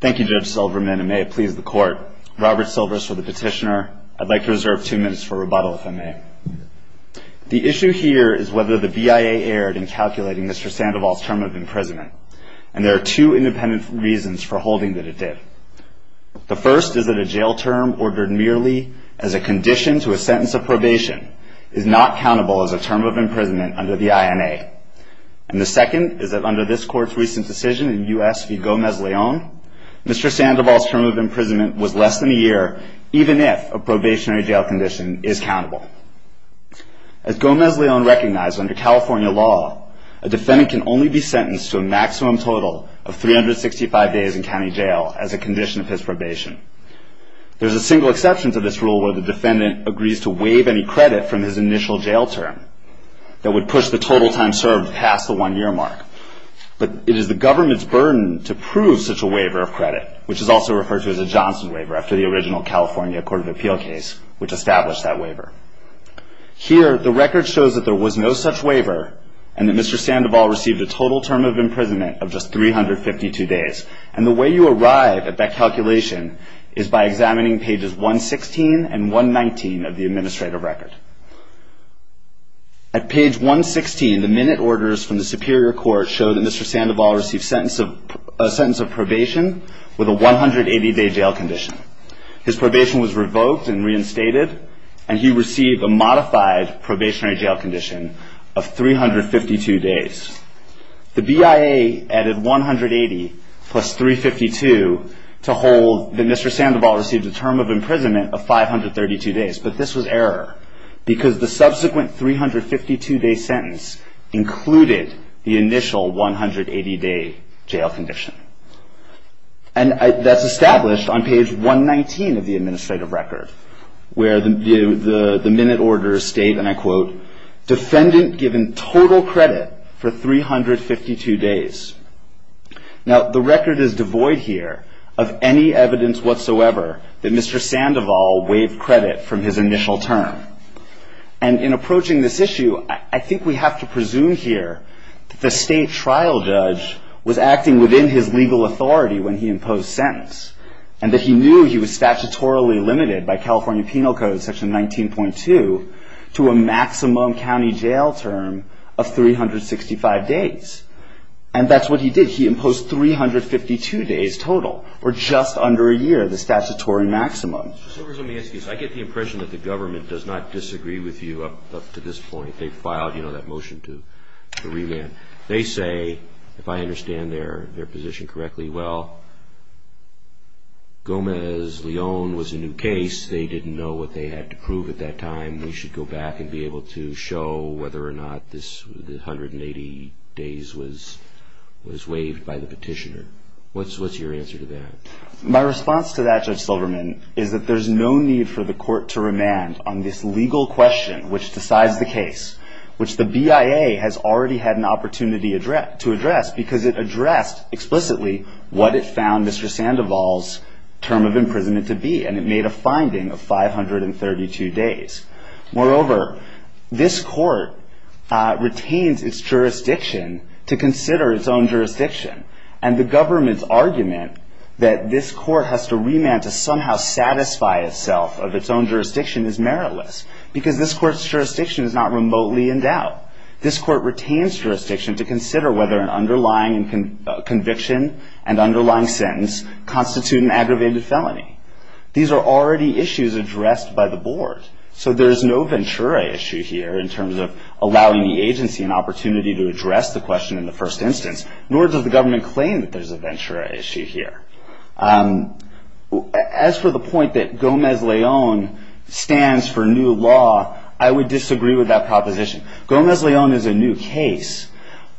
Thank you Judge Silverman, and may it please the court. Robert Silvers for the petitioner. I'd like to reserve two minutes for rebuttal if I may. The issue here is whether the BIA erred in calculating Mr. Sandoval's term of imprisonment, and there are two independent reasons for holding that it did. The first is that a jail term ordered merely as a condition to a sentence of probation is not countable as a term of imprisonment under the INA. And the second is that under this court's recent decision in U.S. v. Gomez-Leon, Mr. Sandoval's term of imprisonment was less than a year, even if a probationary jail condition is countable. As Gomez-Leon recognized under California law, a defendant can only be sentenced to a maximum total of 365 days in county jail as a condition of his probation. There is a single exception to this rule where the defendant agrees to waive any credit from his initial jail term that would push the total time served past the one-year mark. But it is the government's burden to prove such a waiver of credit, which is also referred to as a Johnson waiver after the original California Court of Appeal case which established that waiver. Here, the record shows that there was no such waiver and that Mr. Sandoval received a total term of imprisonment of just 352 days. And the way you arrive at that calculation is by examining pages 116 and 119 of the administrative record. At page 116, the minute orders from the Superior Court show that Mr. Sandoval received a sentence of probation with a 180-day jail condition. His probation was revoked and reinstated, and he received a modified probationary jail condition of 352 days. The BIA added 180 plus 352 to hold that Mr. Sandoval received a term of imprisonment of 532 days. But this was error because the subsequent 352-day sentence included the initial 180-day jail condition. And that's established on page 119 of the administrative record where the minute orders state, and I quote, defendant given total credit for 352 days. Now, the record is devoid here of any evidence whatsoever that Mr. Sandoval waived credit from his initial term. And in approaching this issue, I think we have to presume here that the state trial judge was acting within his legal authority when he imposed sentence, and that he knew he was statutorily limited by California Penal Code Section 19.2 to a maximum county jail term of 365 days. And that's what he did. He imposed 352 days total, or just under a year, the statutory maximum. Mr. Silvers, let me ask you this. I get the impression that the government does not disagree with you up to this point. They filed, you know, that motion to remand. They say, if I understand their position correctly, well, Gomez-Leon was a new case. They didn't know what they had to prove at that time. They should go back and be able to show whether or not this 180 days was waived by the petitioner. What's your answer to that? My response to that, Judge Silverman, is that there's no need for the court to remand on this legal question which decides the case, which the BIA has already had an opportunity to address because it addressed explicitly what it found Mr. Sandoval's term of imprisonment to be, and it made a finding of 532 days. Moreover, this court retains its jurisdiction to consider its own jurisdiction. And the government's argument that this court has to remand to somehow satisfy itself of its own jurisdiction is meritless because this court's jurisdiction is not remotely endowed. This court retains jurisdiction to consider whether an underlying conviction and underlying sentence constitute an aggravated felony. These are already issues addressed by the board. So there's no Ventura issue here in terms of allowing the agency an opportunity to address the question in the first instance, nor does the government claim that there's a Ventura issue here. As for the point that Gomez-Leon stands for new law, I would disagree with that proposition. Gomez-Leon is a new case,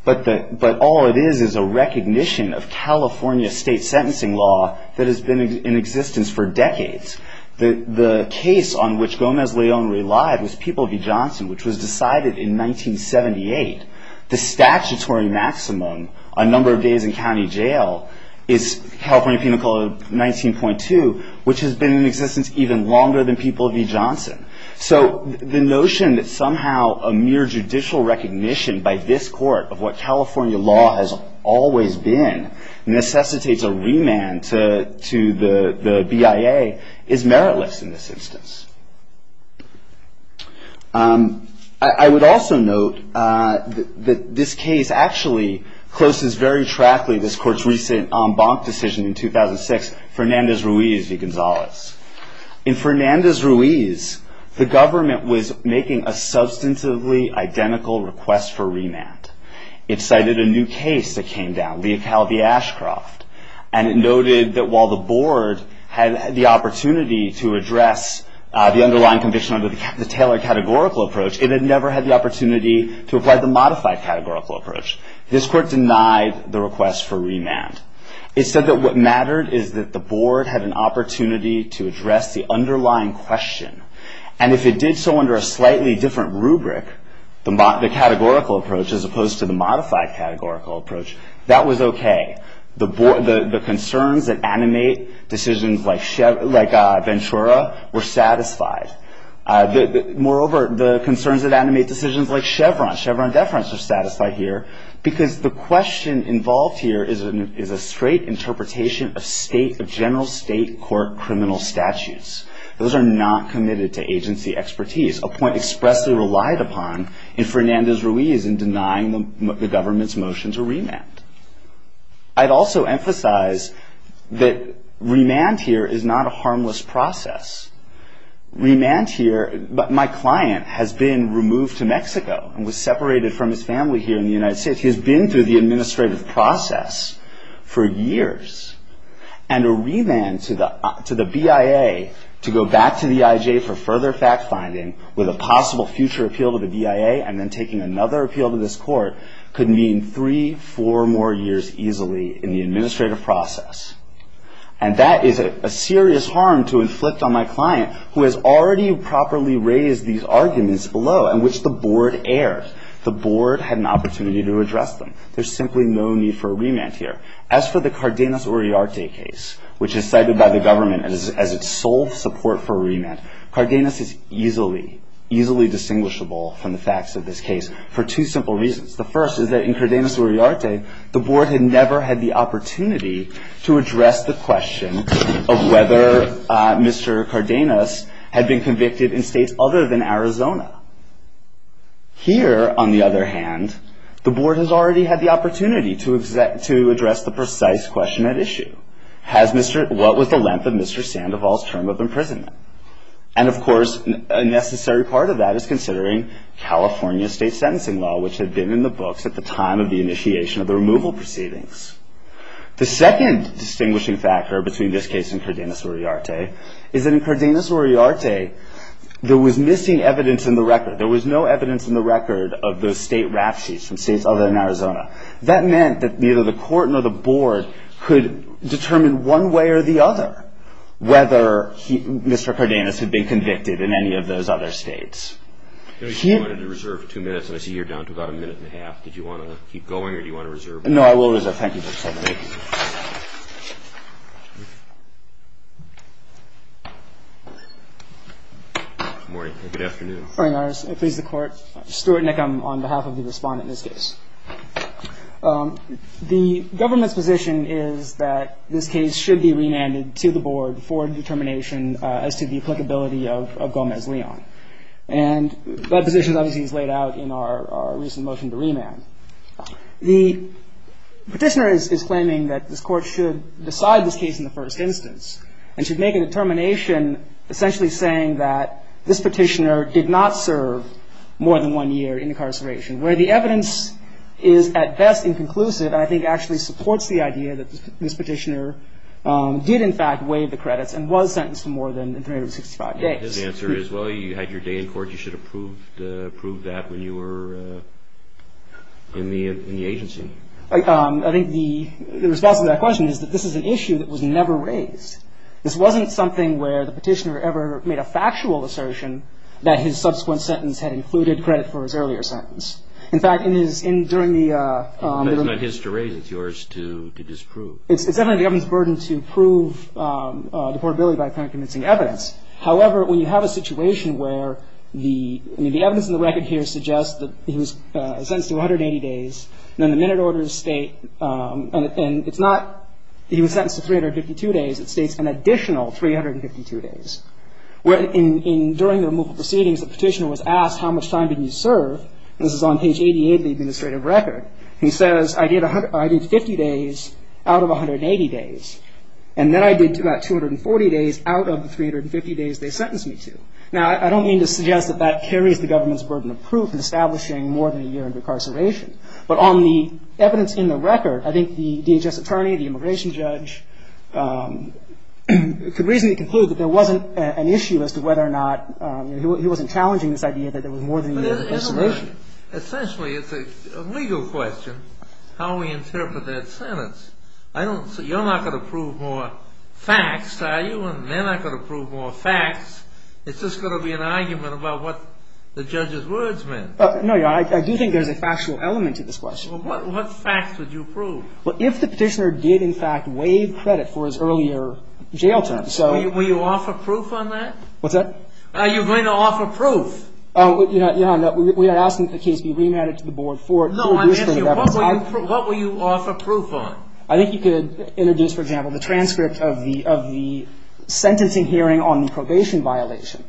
but all it is is a recognition of California state sentencing law that has been in existence for decades. The case on which Gomez-Leon relied was People v. Johnson, which was decided in 1978. The statutory maximum, a number of days in county jail, is California Penal Code 19.2, which has been in existence even longer than People v. Johnson. So the notion that somehow a mere judicial recognition by this court of what California law has always been necessitates a remand to the BIA is meritless in this instance. I would also note that this case actually closes very trackly this court's recent en banc decision in 2006, Fernandez-Ruiz v. Gonzalez. In Fernandez-Ruiz, the government was making a substantively identical request for remand. It cited a new case that came down, Leocal v. Ashcroft, and it noted that while the board had the opportunity to address the underlying conviction under the Taylor categorical approach, it had never had the opportunity to apply the modified categorical approach. This court denied the request for remand. It said that what mattered is that the board had an opportunity to address the underlying question, and if it did so under a slightly different rubric, the categorical approach as opposed to the modified categorical approach, that was okay. The concerns that animate decisions like Ventura were satisfied. Moreover, the concerns that animate decisions like Chevron, Chevron deference, were satisfied here because the question involved here is a straight interpretation of general state court criminal statutes. Those are not committed to agency expertise, a point expressly relied upon in Fernandez-Ruiz in denying the government's motion to remand. I'd also emphasize that remand here is not a harmless process. Remand here, my client has been removed to Mexico and was separated from his family here in the United States. He has been through the administrative process for years, and a remand to the BIA to go back to the IJ for further fact-finding with a possible future appeal to the BIA and then taking another appeal to this court could mean three, four more years easily in the administrative process. And that is a serious harm to inflict on my client, who has already properly raised these arguments below, in which the board erred. The board had an opportunity to address them. There's simply no need for a remand here. As for the Cardenas-Uriarte case, which is cited by the government as its sole support for remand, Cardenas is easily, easily distinguishable from the facts of this case for two simple reasons. The first is that in Cardenas-Uriarte, the board had never had the opportunity to address the question of whether Mr. Cardenas had been convicted in states other than Arizona. Here, on the other hand, the board has already had the opportunity to address the precise question at issue. What was the length of Mr. Sandoval's term of imprisonment? And of course, a necessary part of that is considering California state sentencing law, which had been in the books at the time of the initiation of the removal proceedings. The second distinguishing factor between this case and Cardenas-Uriarte is that in Cardenas-Uriarte, let's say, there was missing evidence in the record. There was no evidence in the record of the state rap sheets from states other than Arizona. That meant that neither the court nor the board could determine one way or the other whether Mr. Cardenas had been convicted in any of those other states. If you wanted to reserve two minutes, and I see you're down to about a minute and a half, did you want to keep going or do you want to reserve? No, I will reserve. Thank you, Judge Sandoval. Good morning. Good afternoon. Good morning, Your Honor. Please, the court. Stuart Nickam on behalf of the respondent in this case. The government's position is that this case should be remanded to the board for determination as to the applicability of Gomez-Leon. And that position obviously is laid out in our recent motion to remand. The petitioner is claiming that this court should decide this case in the first instance and should make a determination essentially saying that this petitioner did not serve more than one year in incarceration, where the evidence is at best inconclusive and I think actually supports the idea that this petitioner did in fact waive the credits and was sentenced to more than 365 days. His answer is, well, you had your day in court. You should have proved that when you were in the agency. I think the response to that question is that this is an issue that was never raised. This wasn't something where the petitioner ever made a factual assertion that his subsequent sentence had included credit for his earlier sentence. In fact, in his enduring the ---- It's not his to raise. It's yours to disprove. It's definitely the government's burden to prove deportability by kind of convincing evidence. However, when you have a situation where the evidence in the record here suggests that he was sentenced to 180 days and then the minute orders state and it's not he was sentenced to 352 days. It states an additional 352 days. During the removal proceedings, the petitioner was asked how much time did you serve. This is on page 88 of the administrative record. He says, I did 50 days out of 180 days. And then I did about 240 days out of the 350 days they sentenced me to. Now, I don't mean to suggest that that carries the government's burden of proof in establishing more than a year in recarceration. But on the evidence in the record, I think the DHS attorney, the immigration judge, could reasonably conclude that there wasn't an issue as to whether or not he wasn't challenging this idea that there was more than a year of incarceration. Essentially, it's a legal question, how we interpret that sentence. You're not going to prove more facts, are you? They're not going to prove more facts. It's just going to be an argument about what the judge's words meant. No, Your Honor. I do think there's a factual element to this question. Well, what facts would you prove? Well, if the petitioner did, in fact, waive credit for his earlier jail term, so. Will you offer proof on that? What's that? Are you going to offer proof? Your Honor, we are asking that the case be remanded to the board for judicial reference. No, I'm asking you, what will you offer proof on? I think you could introduce, for example, the transcript of the sentencing hearing on the probation violation.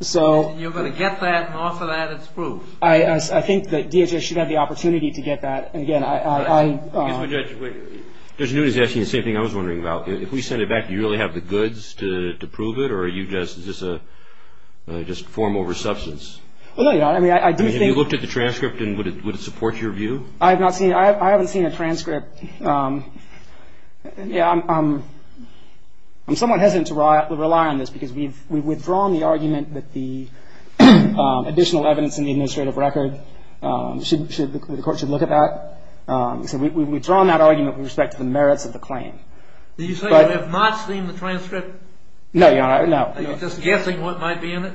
So. You're going to get that and offer that as proof. I think that DHS should have the opportunity to get that. And again, I. Judge Newton is asking the same thing I was wondering about. If we send it back, do you really have the goods to prove it? Or are you just form over substance? Well, no, Your Honor. I mean, I do think. Have you looked at the transcript and would it support your view? I haven't seen a transcript. Yeah, I'm somewhat hesitant to rely on this, because we've withdrawn the argument that the additional evidence in the administrative record, the court should look at that. So we've withdrawn that argument with respect to the merits of the claim. Did you say you have not seen the transcript? No, Your Honor, no. Are you just guessing what might be in it?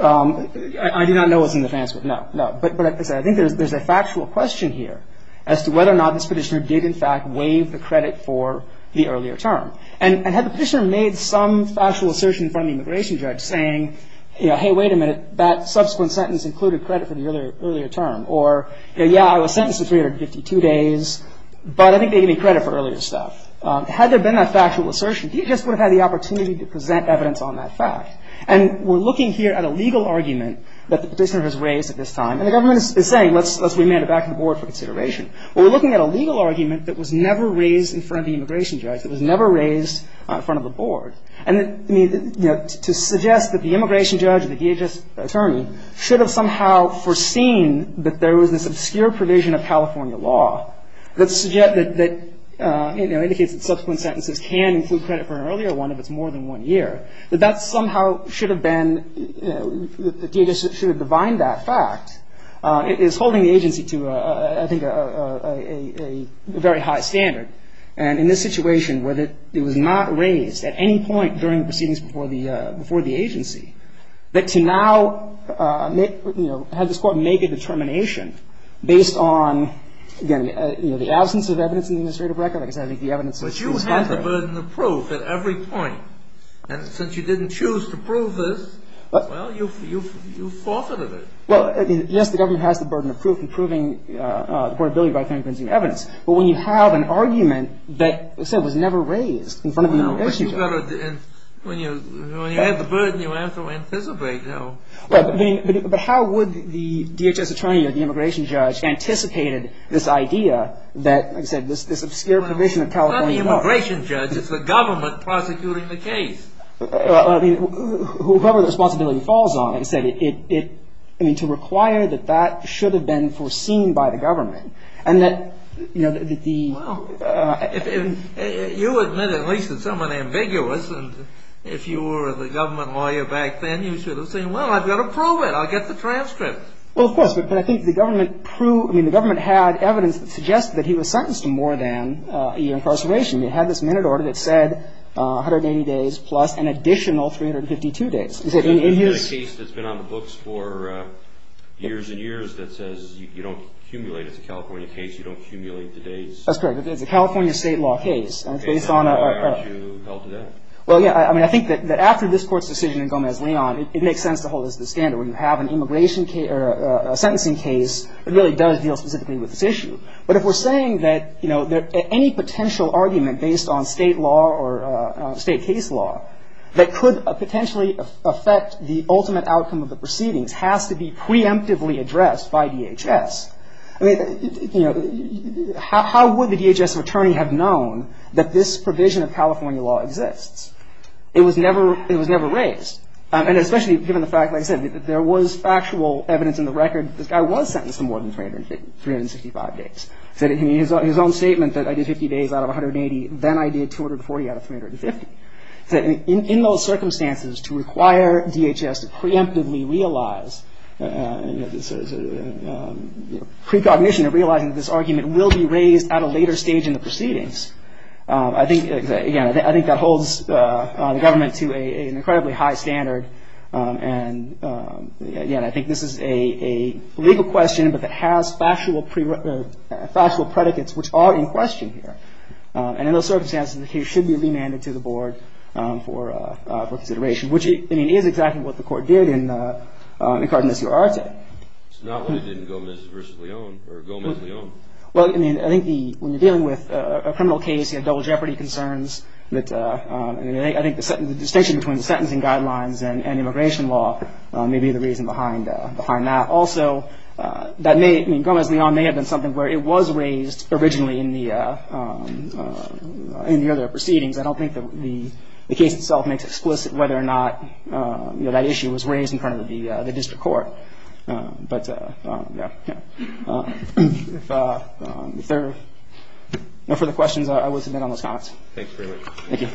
I do not know what's in the transcript, no, no. But I think there's a factual question here as to whether or not this petitioner did, in fact, waive the credit for the earlier term. And had the petitioner made some factual assertion in front of the immigration judge saying, hey, wait a minute, that subsequent sentence included credit for the earlier term, or yeah, I was sentenced to 352 days, but I think they gave me credit for earlier stuff. Had there been a factual assertion, he just would have had the opportunity to present evidence on that fact. And we're looking here at a legal argument that the petitioner has raised at this time, and the government is saying let's remand it back to the board for consideration. Well, we're looking at a legal argument that was never raised in front of the immigration judge, that was never raised in front of the board. And to suggest that the immigration judge or the DHS attorney should have somehow foreseen that there was this obscure provision of California law that indicates that subsequent sentences can include credit for an earlier one if it's more than one year, that that somehow should have been, the DHS should have defined that fact, is holding the agency to, I think, a very high standard. And in this situation where it was not raised at any point during the proceedings before the agency, that to now make, you know, have this court make a determination based on, again, you know, the absence of evidence in the administrative record, like I said, I think the evidence is contrary. Yes, the government has the burden of proof at every point. And since you didn't choose to prove this, well, you forfeited it. Well, yes, the government has the burden of proof in proving the affordability of right-of-way and forensic evidence. But when you have an argument that, like I said, was never raised in front of the immigration judge. No, but you've got to, when you have the burden, you have to anticipate, you know. But how would the DHS attorney or the immigration judge anticipated this idea that, like I said, this obscure provision of California law. It's not the immigration judge. It's the government prosecuting the case. Well, I mean, whoever the responsibility falls on, like I said, it, I mean, to require that that should have been foreseen by the government and that, you know, that the... Well, if you admit at least that someone ambiguous and if you were the government lawyer back then, you should have said, well, I've got to prove it. I'll get the transcript. Well, of course. But I think the government, I mean, the government had evidence that suggested that he was sentenced to more than a year incarceration. It had this minute order that said 180 days plus an additional 352 days. Is it in his... It's a case that's been on the books for years and years that says you don't accumulate. It's a California case. You don't accumulate the days. That's correct. It's a California state law case. And it's based on a... And why aren't you held to that? Well, yeah, I mean, I think that after this Court's decision in Gomez-Leon, it makes sense to hold this to the standard. When you have an immigration case or a sentencing case, it really does deal specifically with this issue. But if we're saying that, you know, any potential argument based on state law or state case law that could potentially affect the ultimate outcome of the proceedings has to be preemptively addressed by DHS, I mean, you know, how would the DHS attorney have known that this provision of California law exists? It was never raised. And especially given the fact, like I said, there was factual evidence in the record that this guy was sentenced to more than 365 days. He said in his own statement that I did 50 days out of 180, then I did 240 out of 350. In those circumstances, to require DHS to preemptively realize, you know, precognition of realizing that this argument will be raised at a later stage in the proceedings, I think, again, I think that holds the government to an incredibly high standard. And, again, I think this is a legal question, but it has factual predicates which are in question here. And in those circumstances, the case should be remanded to the board for consideration, which, I mean, is exactly what the court did in Cardenasio-Arte. It's not what it did in Gomez versus Leon or Gomez-Leon. Well, I mean, I think when you're dealing with a criminal case, you have double jeopardy concerns. I think the distinction between the sentencing guidelines and immigration law may be the reason behind that. Also, Gomez-Leon may have been something where it was raised originally in the other proceedings. I don't think the case itself makes explicit whether or not that issue was raised in front of the district court. If there are no further questions, I will submit on those comments. Thanks very much. Thank you.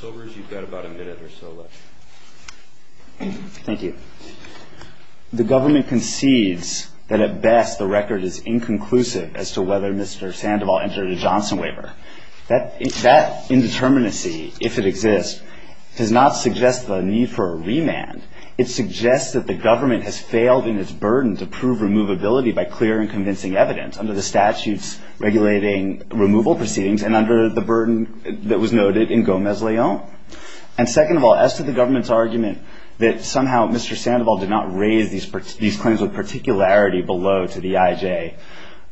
Silvers, you've got about a minute or so left. Thank you. The government concedes that at best the record is inconclusive as to whether Mr. Sandoval entered a Johnson waiver. That indeterminacy, if it exists, does not suggest the need for a remand. It suggests that the government has failed in its burden to prove removability by clear and convincing evidence under the statutes regulating removal proceedings and under the burden that was noted in Gomez-Leon. And second of all, as to the government's argument that somehow Mr. Sandoval did not raise these claims with particularity below to the IJ,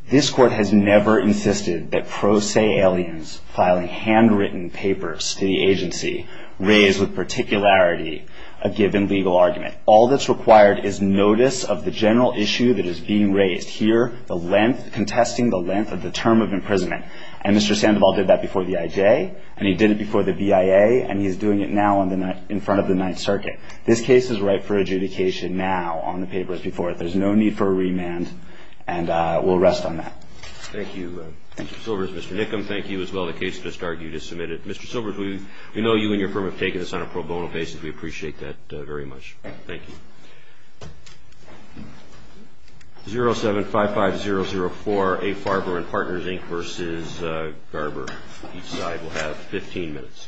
this court has never insisted that pro se aliens filing handwritten papers to the agency raise with particularity a given legal argument. All that's required is notice of the general issue that is being raised. Here, the length, contesting the length of the term of imprisonment. And Mr. Sandoval did that before the IJ, and he did it before the BIA, and he's doing it now in front of the Ninth Circuit. This case is ripe for adjudication now on the papers before it. There's no need for a remand, and we'll rest on that. Thank you. Thank you, Silvers. Mr. Nickham, thank you as well. The case just argued is submitted. Mr. Silvers, we know you and your firm have taken this on a pro bono basis. We appreciate that very much. Thank you. 0755004, A. Farber and Partners, Inc. v. Garber. Each side will have 15 minutes.